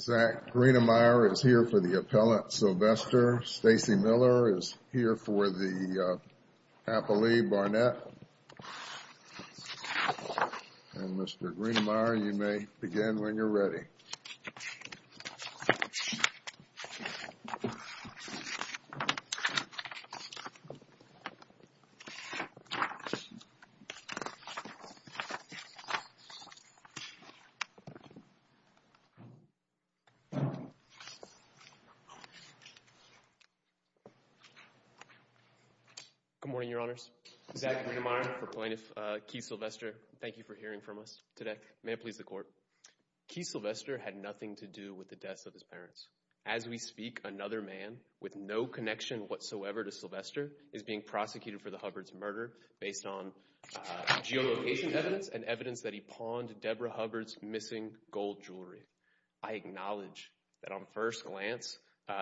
Zach Greenemeier is here for the appellant Sylvester, Stacey Miller is here for the appellee Barnett and Mr. Greenemeier you may begin when you're ready. Good morning, your honors. Zach Greenemeier for plaintiff Keith Sylvester. Thank you for hearing from us today. May it please the court. Keith Sylvester had nothing to do with the deaths of his parents. As we speak, another man with no connection whatsoever to Sylvester is being prosecuted for the Hubbard's murder based on geolocation evidence and evidence that he pawned Deborah Hubbard's missing gold jewelry. I acknowledge that on first glance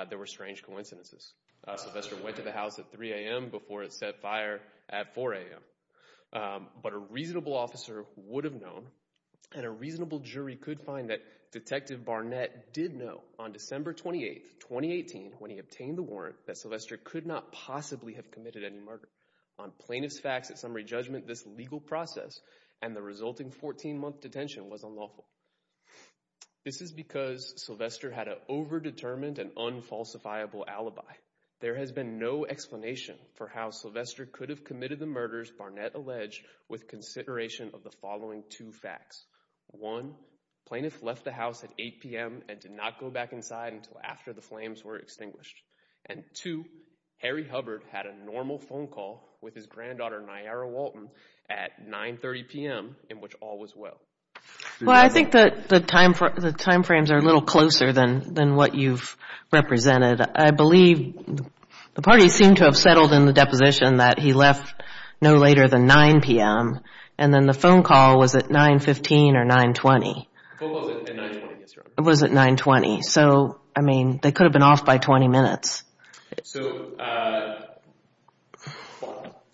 there were strange coincidences. Sylvester went to the house at 3 a.m. before it set fire at 4 a.m. But a reasonable officer would have known and a reasonable jury could find that Detective Barnett did know on December 28, 2018 when he obtained the warrant that Sylvester could not possibly have committed any murder. On plaintiff's facts at summary judgment this legal process and the resulting 14 month detention was unlawful. This is because Sylvester had an over-determined and unfalsifiable alibi. There has been no explanation for how Sylvester could have committed the murders Barnett alleged with consideration of the following two facts. One, plaintiff left the house at 8 p.m. and did not go back inside until after the flames were extinguished. And two, Harry Hubbard had a normal phone call with his granddaughter Nayara Walton at 9.30 p.m. in which all was well. Well, I think the time frames are a little closer than what you've represented. I believe the parties seem to have settled in the deposition that he left no later than 9 p.m. And then the phone call was at 9.15 or 9.20. The phone call was at 9.20, yes, Your Honor. It was at 9.20. So, I mean, they could have been off by 20 minutes. So,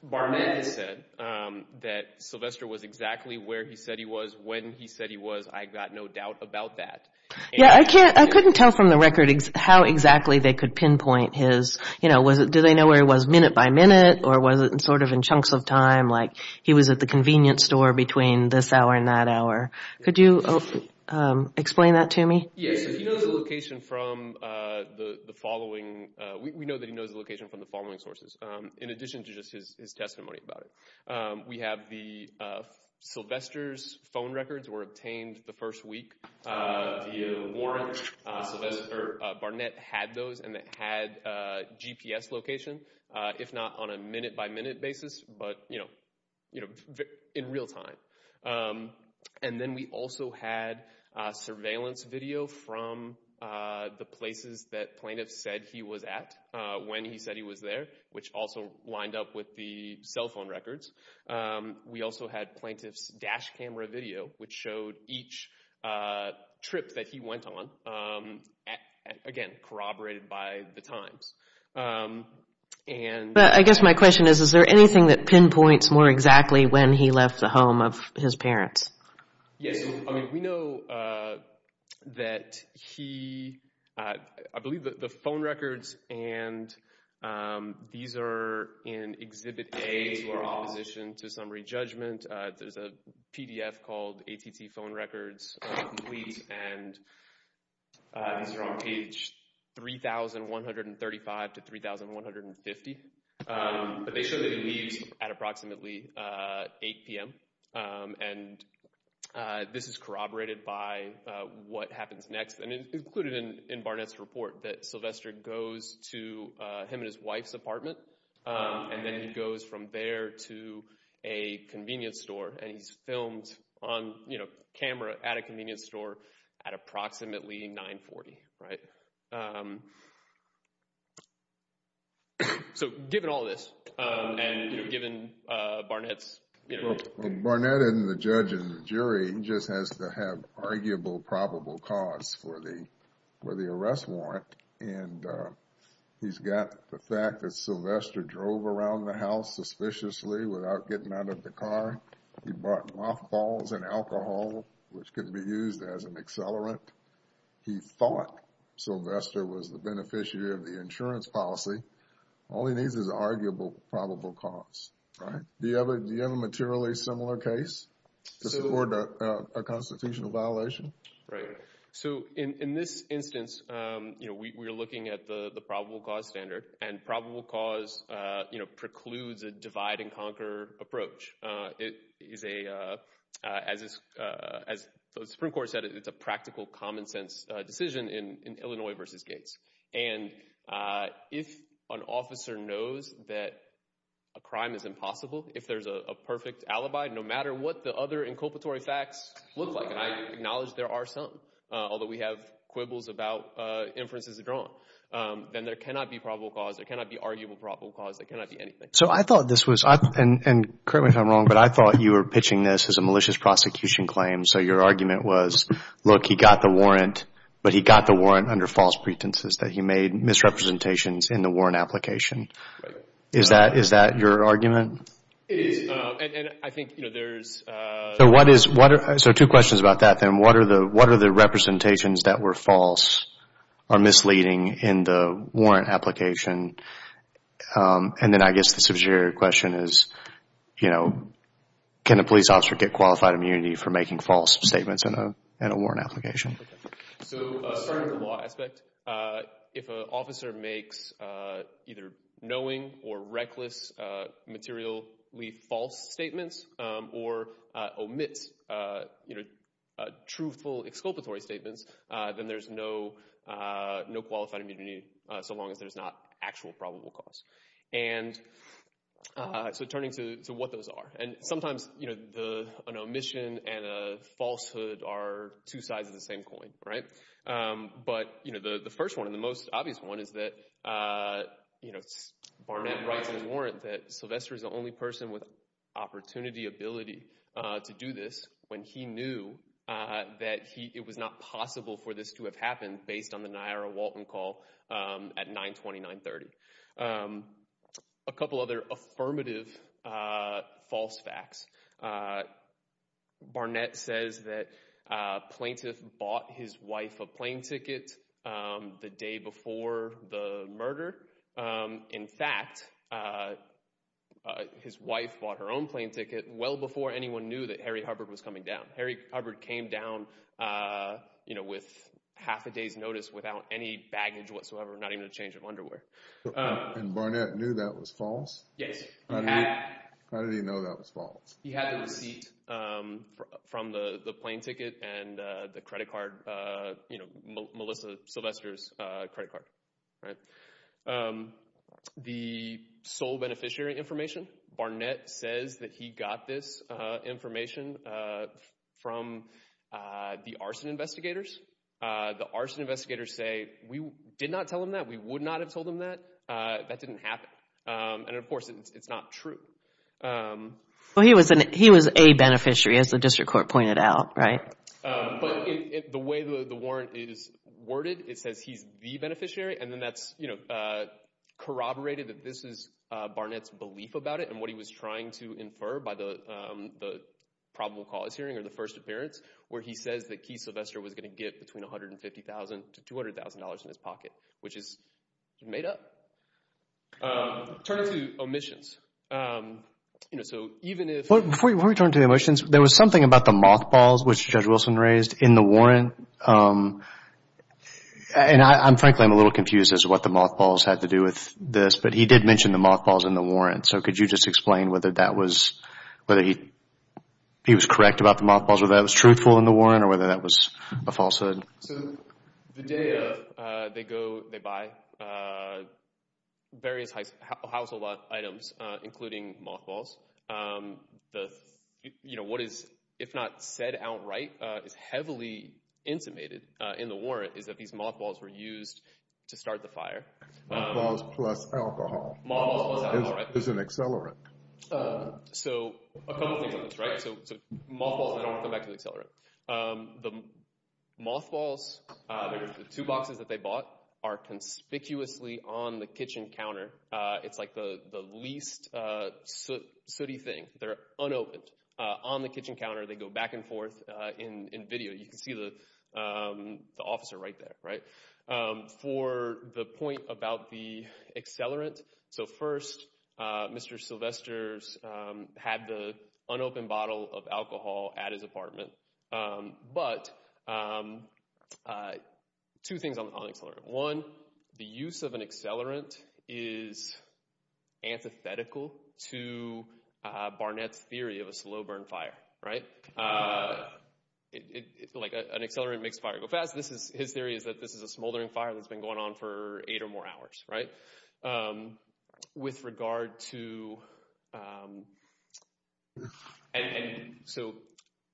Barnett has said that Sylvester was exactly where he said he was when he said he was. I've got no doubt about that. Yeah, I couldn't tell from the record how exactly they could pinpoint his, you know, did they know where he was minute by minute? Or was it sort of in chunks of time like he was at the convenience store between this hour and that hour? Could you explain that to me? Yes, if he knows the location from the following, we know that he knows the location from the following sources. In addition to just his testimony about it, we have the Sylvester's phone records were obtained the first week. Do you warrant Sylvester Barnett had those and that had GPS location, if not on a minute by minute basis, but, you know, in real time. And then we also had surveillance video from the places that plaintiff said he was at when he said he was there, which also lined up with the cell phone records. We also had plaintiff's dash camera video, which showed each trip that he went on. Again, corroborated by the times. I guess my question is, is there anything that pinpoints more exactly when he left the home of his parents? Yes, we know that he, I believe that the phone records and these are in Exhibit A to our opposition to summary judgment. There's a PDF called ATT phone records, and these are on page 3,135 to 3,150. But they show that he leaves at approximately 8 p.m. And this is corroborated by what happens next and included in Barnett's report that Sylvester goes to him and his wife's apartment. And then he goes from there to a convenience store and he's filmed on camera at a convenience store at approximately 940, right? So given all this and given Barnett's… Barnett and the judge and the jury just has to have arguable probable cause for the arrest warrant. And he's got the fact that Sylvester drove around the house suspiciously without getting out of the car. He brought mothballs and alcohol, which could be used as an accelerant. He thought Sylvester was the beneficiary of the insurance policy. All he needs is an arguable probable cause, right? Do you have a materially similar case to support a constitutional violation? Right. So in this instance, we're looking at the probable cause standard. And probable cause precludes a divide-and-conquer approach. As the Supreme Court said, it's a practical, common-sense decision in Illinois v. Gates. And if an officer knows that a crime is impossible, if there's a perfect alibi, no matter what the other inculpatory facts look like— and I acknowledge there are some, although we have quibbles about inferences drawn— then there cannot be probable cause, there cannot be arguable probable cause, there cannot be anything. So I thought this was—and correct me if I'm wrong, but I thought you were pitching this as a malicious prosecution claim. So your argument was, look, he got the warrant, but he got the warrant under false pretenses that he made misrepresentations in the warrant application. Is that your argument? And I think there's— So two questions about that, then. What are the representations that were false or misleading in the warrant application? And then I guess the subsidiary question is, can a police officer get qualified immunity for making false statements in a warrant application? So starting with the law aspect, if an officer makes either knowing or reckless, materially false statements, or omits truthful exculpatory statements, then there's no qualified immunity so long as there's not actual probable cause. And so turning to what those are, and sometimes an omission and a falsehood are two sides of the same coin, right? But the first one and the most obvious one is that Barnett writes in his warrant that Sylvester is the only person with opportunity, ability to do this when he knew that it was not possible for this to have happened based on the Niara Walton call at 9-29-30. A couple other affirmative false facts. Barnett says that a plaintiff bought his wife a plane ticket the day before the murder. In fact, his wife bought her own plane ticket well before anyone knew that Harry Hubbard was coming down. Harry Hubbard came down with half a day's notice without any baggage whatsoever, not even a change of underwear. And Barnett knew that was false? Yes, he had. How did he know that was false? He had the receipt from the plane ticket and the credit card, Melissa Sylvester's credit card. The sole beneficiary information, Barnett says that he got this information from the arson investigators. The arson investigators say, we did not tell him that, we would not have told him that, that didn't happen. And, of course, it's not true. He was a beneficiary, as the district court pointed out, right? But the way the warrant is worded, it says he's the beneficiary, and then that's corroborated that this is Barnett's belief about it and what he was trying to infer by the probable cause hearing or the first appearance where he says that Keith Sylvester was going to get between $150,000 to $200,000 in his pocket, which is made up. Turning to omissions, you know, so even if... Before we turn to omissions, there was something about the mothballs, which Judge Wilson raised, in the warrant. And, frankly, I'm a little confused as to what the mothballs had to do with this, but he did mention the mothballs in the warrant. So could you just explain whether that was, whether he was correct about the mothballs, whether that was truthful in the warrant or whether that was a falsehood? So the day of, they go, they buy various household items, including mothballs. The, you know, what is, if not said outright, is heavily intimated in the warrant is that these mothballs were used to start the fire. Mothballs plus alcohol. Mothballs plus alcohol, right. Is an accelerant. So a couple things on this, right? The mothballs, the two boxes that they bought, are conspicuously on the kitchen counter. It's like the least sooty thing. They're unopened. On the kitchen counter, they go back and forth in video. You can see the officer right there, right. For the point about the accelerant, So first, Mr. Sylvester's had the unopened bottle of alcohol at his apartment. But two things on the accelerant. One, the use of an accelerant is antithetical to Barnett's theory of a slow burn fire, right. Like an accelerant makes fire go fast. His theory is that this is a smoldering fire that's been going on for eight or more hours, right. With regard to, and so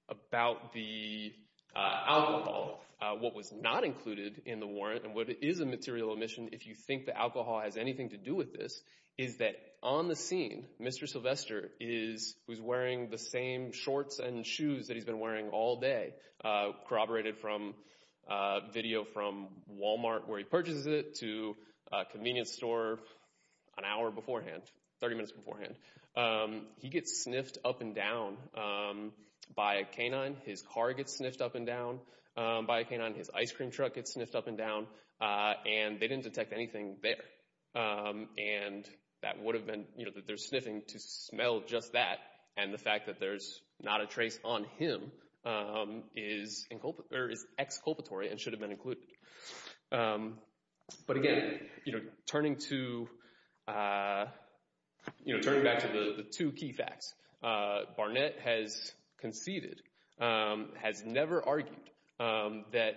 about the alcohol, what was not included in the warrant, and what is a material omission if you think the alcohol has anything to do with this, is that on the scene, Mr. Sylvester, who's wearing the same shorts and shoes that he's been wearing all day, corroborated from video from Walmart where he purchases it to a convenience store an hour beforehand, 30 minutes beforehand. He gets sniffed up and down by a canine. His car gets sniffed up and down by a canine. His ice cream truck gets sniffed up and down. And they didn't detect anything there. And that would have been, you know, that they're sniffing to smell just that. And the fact that there's not a trace on him is exculpatory and should have been included. But again, turning back to the two key facts, Barnett has conceded, has never argued, that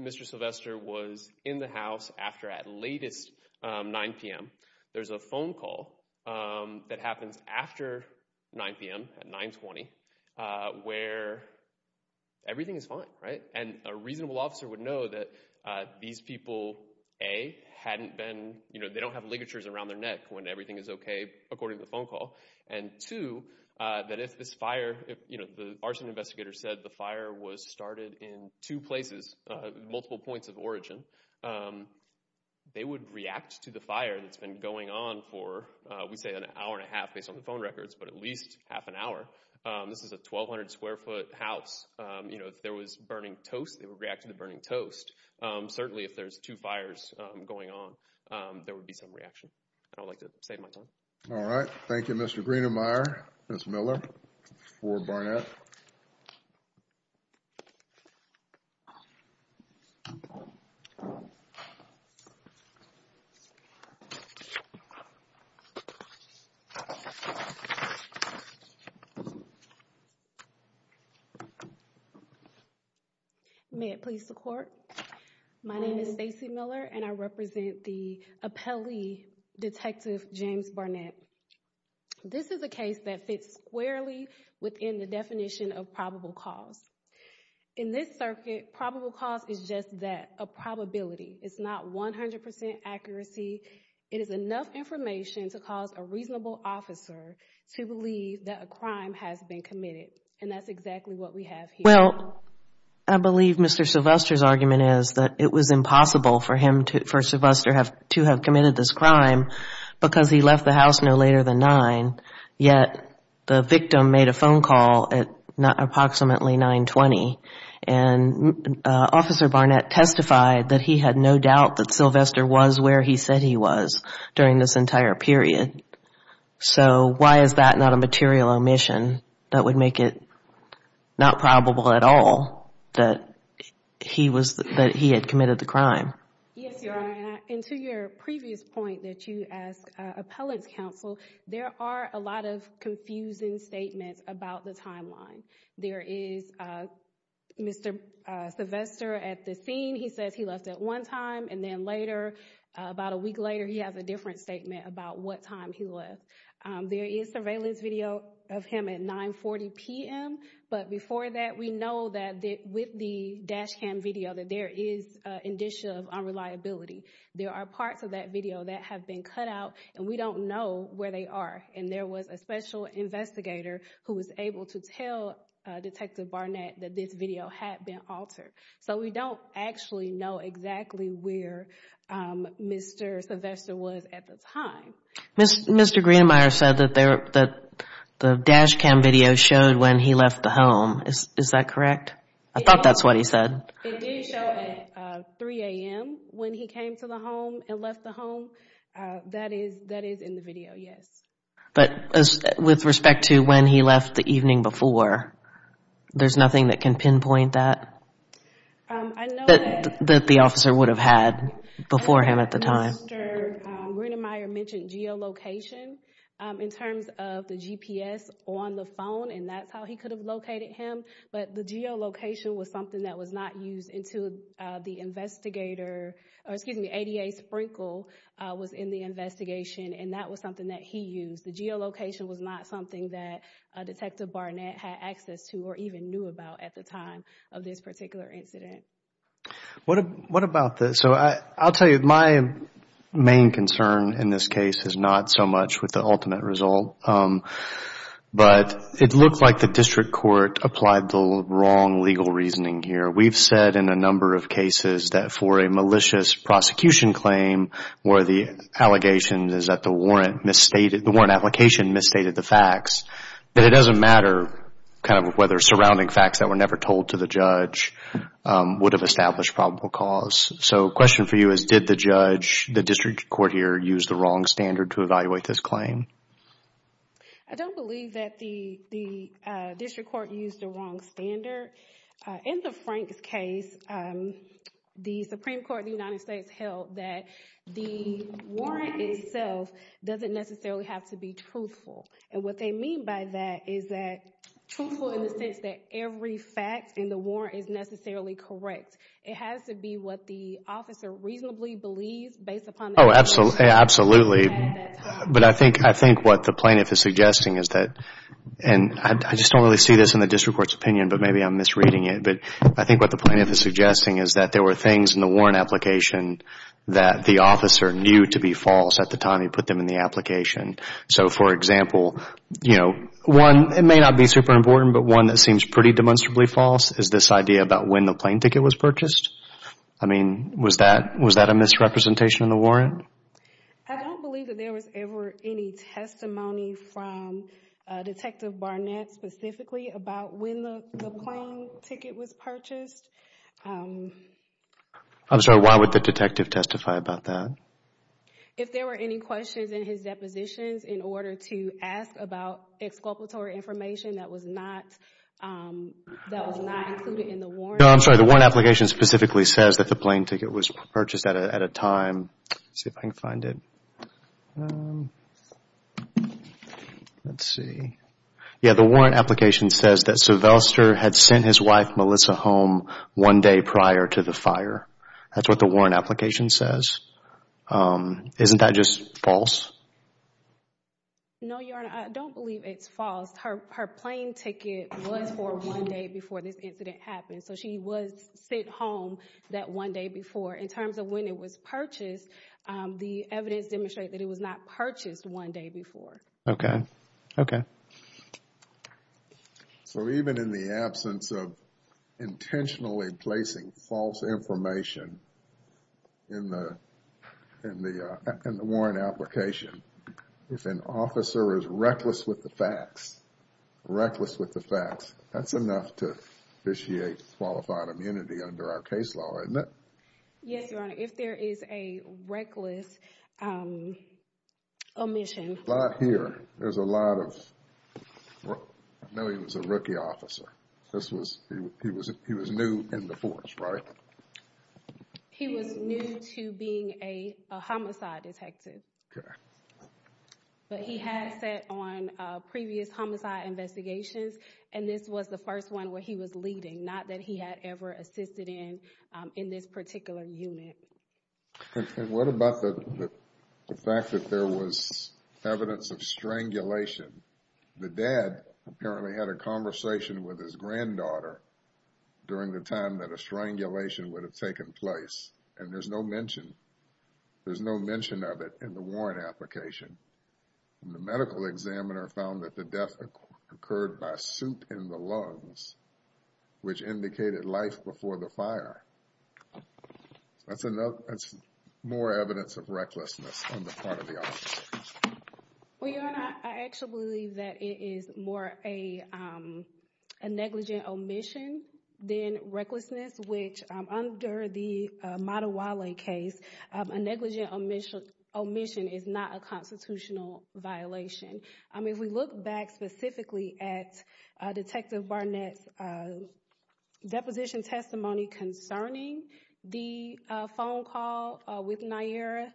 Mr. Sylvester was in the house after at latest 9 p.m. There's a phone call that happens after 9 p.m., at 920, where everything is fine, right. And a reasonable officer would know that these people, A, hadn't been, you know, they don't have ligatures around their neck when everything is okay, according to the phone call. And two, that if this fire, you know, the arson investigator said the fire was started in two places, multiple points of origin, they would react to the fire that's been going on for, we say, an hour and a half based on the phone records, but at least half an hour. This is a 1,200 square foot house. You know, if there was burning toast, they would react to the burning toast. Certainly, if there's two fires going on, there would be some reaction. I'd like to save my time. All right. Thank you, Mr. Greenemeier, Ms. Miller, for Barnett. May it please the court? My name is Stacy Miller, and I represent the appellee, Detective James Barnett. This is a case that fits squarely within the definition of probable cause. In this circuit, probable cause is just that, a probability. It's not 100% accuracy. It is enough information to cause a reasonable officer to believe that a crime has been committed. And that's exactly what we have here. Well, I believe Mr. Sylvester's argument is that it was impossible for Sylvester to have committed this crime because he left the house no later than nine, yet the victim made a phone call at approximately 920. And Officer Barnett testified that he had no doubt that Sylvester was where he said he was during this entire period. So why is that not a material omission that would make it not probable at all that he had committed the crime? Yes, Your Honor. And to your previous point that you asked appellant's counsel, there are a lot of confusing statements about the timeline. There is Mr. Sylvester at the scene. He says he left at one time, and then later, about a week later, he has a different statement about what time he left. There is surveillance video of him at 940 p.m. But before that, we know that with the dash cam video that there is an indicia of unreliability. There are parts of that video that have been cut out, and we don't know where they are. And there was a special investigator who was able to tell Detective Barnett that this video had been altered. So we don't actually know exactly where Mr. Sylvester was at the time. Mr. Greenmeier said that the dash cam video showed when he left the home. Is that correct? I thought that's what he said. It did show at 3 a.m. when he came to the home and left the home. That is in the video, yes. But with respect to when he left the evening before, there's nothing that can pinpoint that? I know that. That the officer would have had before him at the time. Mr. Greenmeier mentioned geolocation in terms of the GPS on the phone, and that's how he could have located him. But the geolocation was something that was not used until the investigator, or excuse me, until ADA Sprinkle was in the investigation, and that was something that he used. The geolocation was not something that Detective Barnett had access to or even knew about at the time of this particular incident. What about this? So I'll tell you, my main concern in this case is not so much with the ultimate result, but it looked like the district court applied the wrong legal reasoning here. We've said in a number of cases that for a malicious prosecution claim, where the allegation is that the warrant misstated, the warrant application misstated the facts, that it doesn't matter kind of whether surrounding facts that were never told to the judge would have established probable cause. So the question for you is, did the judge, the district court here, use the wrong standard to evaluate this claim? I don't believe that the district court used the wrong standard. In the Franks case, the Supreme Court of the United States held that the warrant itself doesn't necessarily have to be truthful. And what they mean by that is that truthful in the sense that every fact in the warrant is necessarily correct. It has to be what the officer reasonably believes based upon the evidence. Oh, absolutely. But I think what the plaintiff is suggesting is that, and I just don't really see this in the district court's opinion, but maybe I'm misreading it, but I think what the plaintiff is suggesting is that there were things in the warrant application that the officer knew to be false at the time he put them in the application. So, for example, you know, one, it may not be super important, but one that seems pretty demonstrably false is this idea about when the plane ticket was purchased. I mean, was that a misrepresentation of the warrant? I don't believe that there was ever any testimony from Detective Barnett specifically about when the plane ticket was purchased. I'm sorry, why would the detective testify about that? If there were any questions in his depositions in order to ask about exculpatory information that was not included in the warrant. No, I'm sorry, the warrant application specifically says that the plane ticket was purchased at a time. Let's see if I can find it. Let's see. Yeah, the warrant application says that Suvelster had sent his wife Melissa home one day prior to the fire. That's what the warrant application says. Isn't that just false? No, Your Honor, I don't believe it's false. Her plane ticket was for one day before this incident happened. So, she was sent home that one day before. In terms of when it was purchased, the evidence demonstrated that it was not purchased one day before. Okay, okay. So, even in the absence of intentionally placing false information in the warrant application, if an officer is reckless with the facts, reckless with the facts, that's enough to initiate qualified immunity under our case law, isn't it? Yes, Your Honor, if there is a reckless omission. Right here, there's a lot of, I know he was a rookie officer. This was, he was new in the force, right? He was new to being a homicide detective. Okay. But he had sat on previous homicide investigations, and this was the first one where he was leading, not that he had ever assisted in, in this particular unit. And what about the fact that there was evidence of strangulation? The dad apparently had a conversation with his granddaughter during the time that a strangulation would have taken place, and there's no mention, there's no mention of it in the warrant application. And the medical examiner found that the death occurred by soup in the lungs, which indicated life before the fire. That's enough, that's more evidence of recklessness on the part of the officer. Well, Your Honor, I actually believe that it is more a negligent omission than recklessness, which under the Madawala case, a negligent omission is not a constitutional violation. I mean, if we look back specifically at Detective Barnett's deposition testimony concerning the phone call with Nayyirah,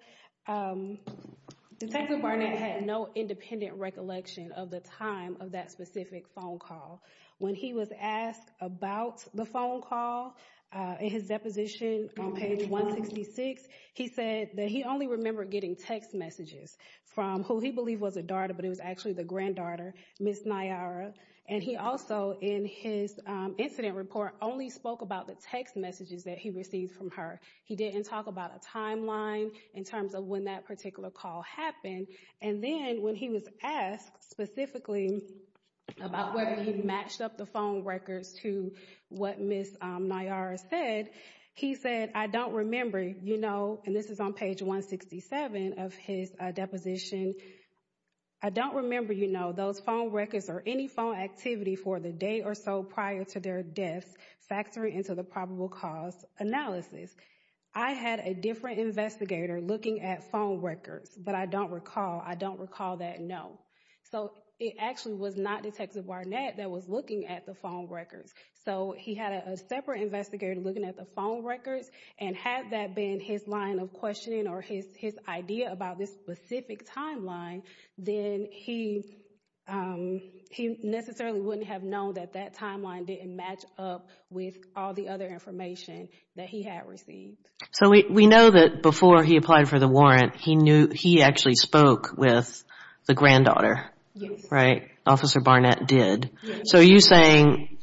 Detective Barnett had no independent recollection of the time of that specific phone call. When he was asked about the phone call in his deposition on page 166, he said that he only remember getting text messages from who he believed was a daughter, but it was actually the granddaughter, Miss Nayyirah. And he also, in his incident report, only spoke about the text messages that he received from her. He didn't talk about a timeline in terms of when that particular call happened. And then when he was asked specifically about whether he matched up the phone records to what Miss Nayyirah said, he said, I don't remember, you know, and this is on page 167 of his deposition, I don't remember, you know, those phone records or any phone activity for the day or so prior to their deaths factoring into the probable cause analysis. I had a different investigator looking at phone records, but I don't recall. I don't recall that, no. So it actually was not Detective Barnett that was looking at the phone records. So he had a separate investigator looking at the phone records. And had that been his line of questioning or his idea about this specific timeline, then he necessarily wouldn't have known that that timeline didn't match up with all the other information that he had received. So we know that before he applied for the warrant, he actually spoke with the granddaughter. Yes. Right? Officer Barnett did. Yes. So are you saying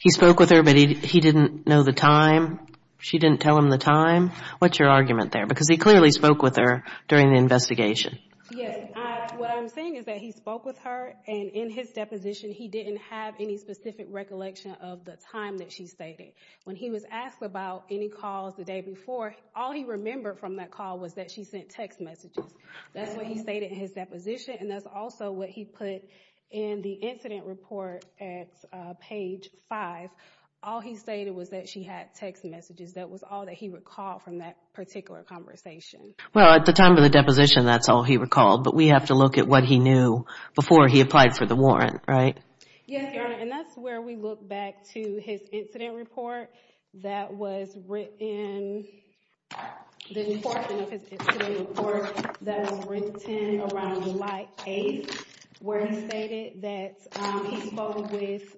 he spoke with her, but he didn't know the time? She didn't tell him the time? What's your argument there? Because he clearly spoke with her during the investigation. Yes. What I'm saying is that he spoke with her, and in his deposition, he didn't have any specific recollection of the time that she stated. When he was asked about any calls the day before, all he remembered from that call was that she sent text messages. That's what he stated in his deposition, and that's also what he put in the incident report at page 5. All he stated was that she had text messages. That was all that he recalled from that particular conversation. Well, at the time of the deposition, that's all he recalled. But we have to look at what he knew before he applied for the warrant, right? Yes, Your Honor. And that's where we look back to his incident report that was written, the portion of his incident report that was written around July 8th, where he stated that he spoke with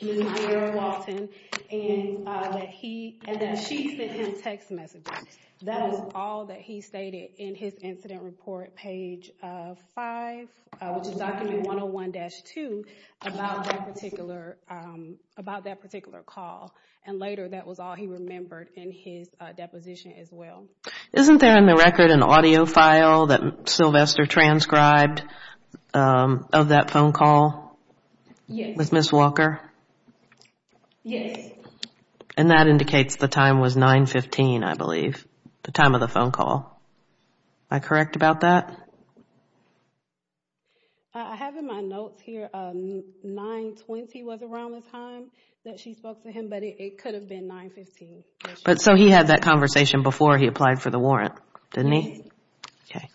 Ms. Vera Walton, and that she sent him text messages. That is all that he stated in his incident report, page 5, which is document 101-2, about that particular call. And later, that was all he remembered in his deposition as well. Isn't there in the record an audio file that Sylvester transcribed of that phone call with Ms. Walker? Yes. And that indicates the time was 9-15, I believe, the time of the phone call. Am I correct about that? I have in my notes here, 9-20 was around the time that she spoke to him, but it could have been 9-15. So he had that conversation before he applied for the warrant, didn't he? Yes. Okay.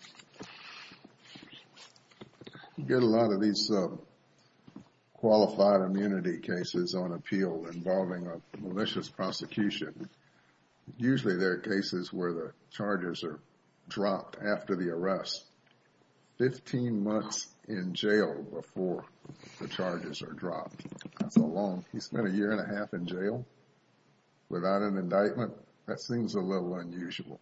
You get a lot of these qualified immunity cases on appeal involving a malicious prosecution. Usually, there are cases where the charges are dropped after the arrest, 15 months in jail before the charges are dropped. He spent a year and a half in jail without an indictment? That seems a little unusual.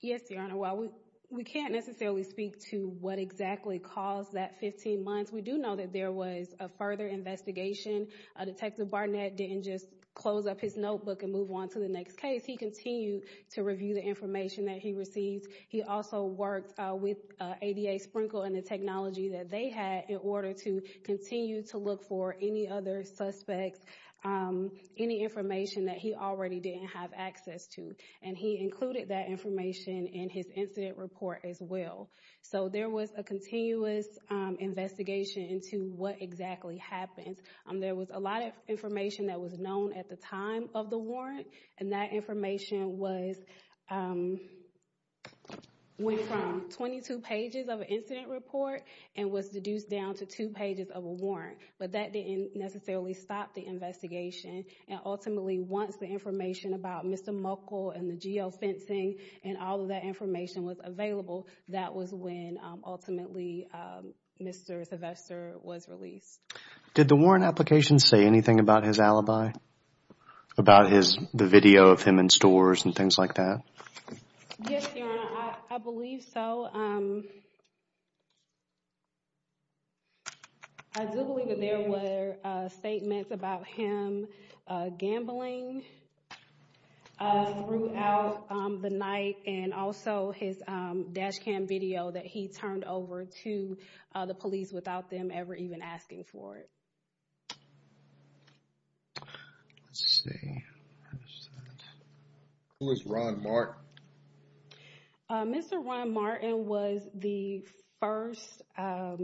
Yes, Your Honor. While we can't necessarily speak to what exactly caused that 15 months, we do know that there was a further investigation. Detective Barnett didn't just close up his notebook and move on to the next case. He continued to review the information that he received. He also worked with ADA Sprinkle and the technology that they had in order to continue to look for any other suspects, any information that he already didn't have access to, and he included that information in his incident report as well. So there was a continuous investigation into what exactly happened. There was a lot of information that was known at the time of the warrant, and that information went from 22 pages of an incident report and was deduced down to two pages of a warrant, but that didn't necessarily stop the investigation. Ultimately, once the information about Mr. Muckle and the geofencing and all of that information was available, that was when, ultimately, Mr. Sylvester was released. Did the warrant application say anything about his alibi, about the video of him in stores and things like that? Yes, Your Honor, I believe so. I do believe that there were statements about him gambling throughout the night and also his dash cam video that he turned over to the police without them ever even asking for it. Let's see. Who is Ron Martin? Mr. Ron Martin was the first, I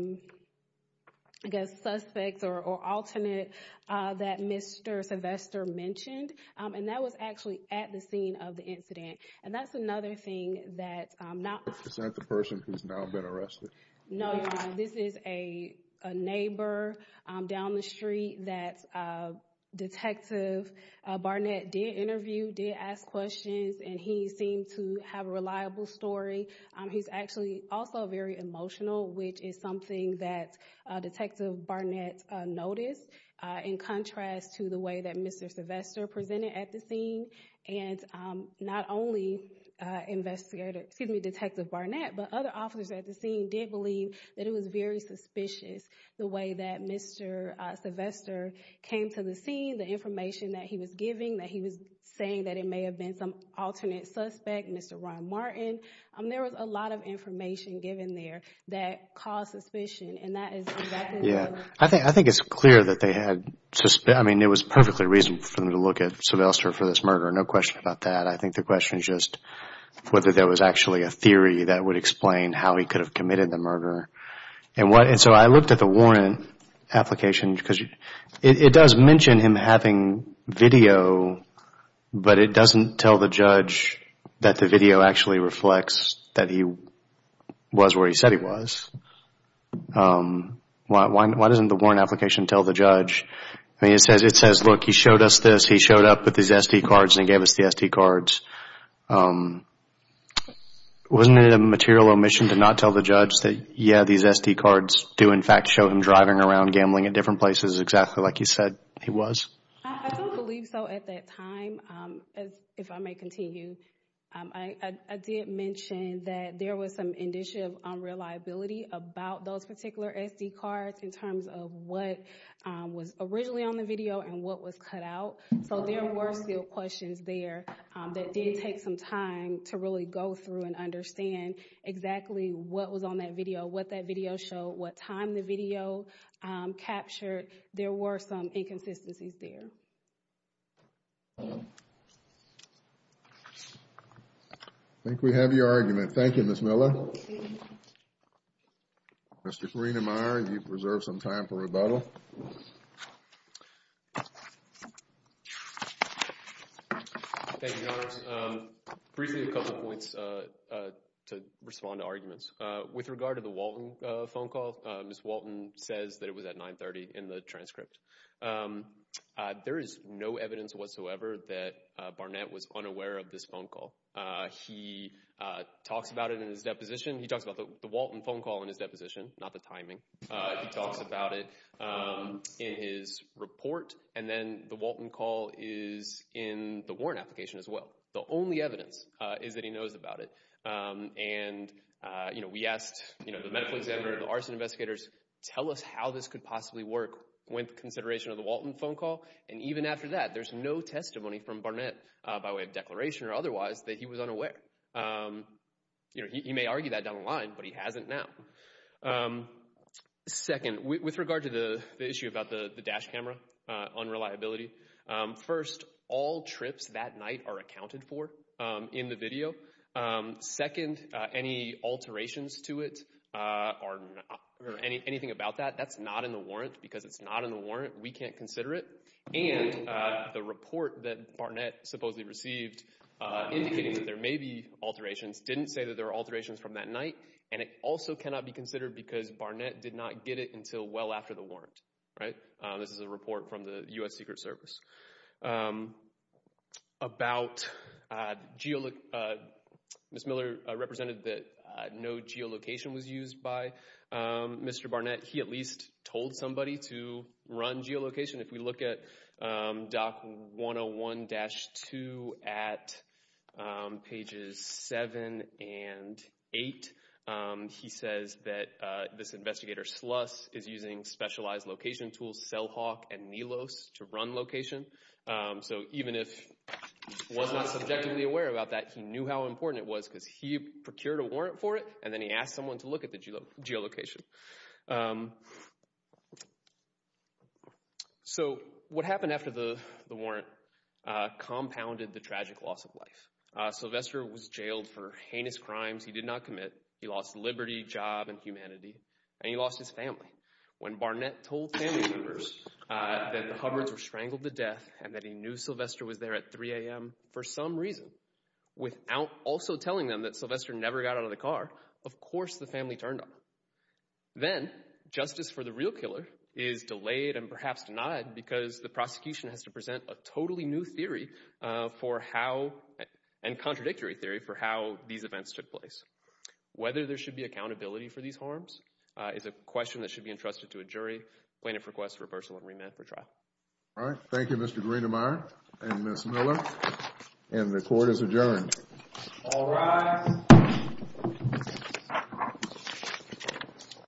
guess, suspect or alternate that Mr. Sylvester mentioned, and that was actually at the scene of the incident. And that's another thing that— Is that the person who's now been arrested? No, this is a neighbor down the street that Detective Barnett did interview, did ask questions, and he seemed to have a reliable story. He's actually also very emotional, which is something that Detective Barnett noticed, in contrast to the way that Mr. Sylvester presented at the scene. And not only Detective Barnett, but other officers at the scene did believe that it was very suspicious, the way that Mr. Sylvester came to the scene, the information that he was giving, that he was saying that it may have been some alternate suspect, Mr. Ron Martin. There was a lot of information given there that caused suspicion, and that is— Yeah, I think it's clear that they had— I mean, it was perfectly reasonable for them to look at Sylvester for this murder, no question about that. I think the question is just whether there was actually a theory that would explain how he could have committed the murder. And so I looked at the warrant application, because it does mention him having video, but it doesn't tell the judge that the video actually reflects that he was where he said he was. Why doesn't the warrant application tell the judge? I mean, it says, look, he showed us this, he showed up with these SD cards, and he gave us the SD cards. Wasn't it a material omission to not tell the judge that, yeah, these SD cards do, in fact, show him driving around gambling at different places exactly like he said he was? I don't believe so at that time. If I may continue, I did mention that there was some indicia of unreliability about those particular SD cards in terms of what was originally on the video and what was cut out. So there were still questions there that did take some time to really go through and understand exactly what was on that video, what that video showed, what time the video captured. There were some inconsistencies there. I think we have your argument. Thank you, Ms. Miller. Mr. Farina-Meyer, you've reserved some time for rebuttal. Thank you, Your Honors. Briefly a couple points to respond to arguments. With regard to the Walton phone call, Ms. Walton says that it was at 930 in the transcript. There is no evidence whatsoever that Barnett was unaware of this phone call. He talks about it in his deposition. He talks about the Walton phone call in his deposition, not the timing. He talks about it in his report, and then the Walton call is in the warrant application as well. The only evidence is that he knows about it. We asked the medical examiner and the arson investigators, tell us how this could possibly work with consideration of the Walton phone call, and even after that there's no testimony from Barnett by way of declaration or otherwise that he was unaware. He may argue that down the line, but he hasn't now. Second, with regard to the issue about the dash camera unreliability, first, all trips that night are accounted for in the video. Second, any alterations to it or anything about that, that's not in the warrant. Because it's not in the warrant, we can't consider it. And the report that Barnett supposedly received indicating that there may be alterations didn't say that there were alterations from that night, and it also cannot be considered because Barnett did not get it until well after the warrant. This is a report from the U.S. Secret Service. Ms. Miller represented that no geolocation was used by Mr. Barnett. He at least told somebody to run geolocation. If we look at doc 101-2 at pages 7 and 8, he says that this investigator, Sluss, is using specialized location tools, Cellhawk and NELOS, to run location. So even if he was not subjectively aware about that, he knew how important it was because he procured a warrant for it, and then he asked someone to look at the geolocation. So what happened after the warrant compounded the tragic loss of life. Sylvester was jailed for heinous crimes he did not commit. He lost liberty, job, and humanity, and he lost his family. When Barnett told family members that the Hubbards were strangled to death and that he knew Sylvester was there at 3 a.m. for some reason, without also telling them that Sylvester never got out of the car, of course the family turned up. Then, justice for the real killer is delayed and perhaps denied because the prosecution has to present a totally new theory for how, and contradictory theory, for how these events took place. Whether there should be accountability for these harms is a question that should be entrusted to a jury, plaintiff requests reversal and remand for trial. Thank you Mr. Greenemeier and Ms. Miller, and the court is adjourned. All rise.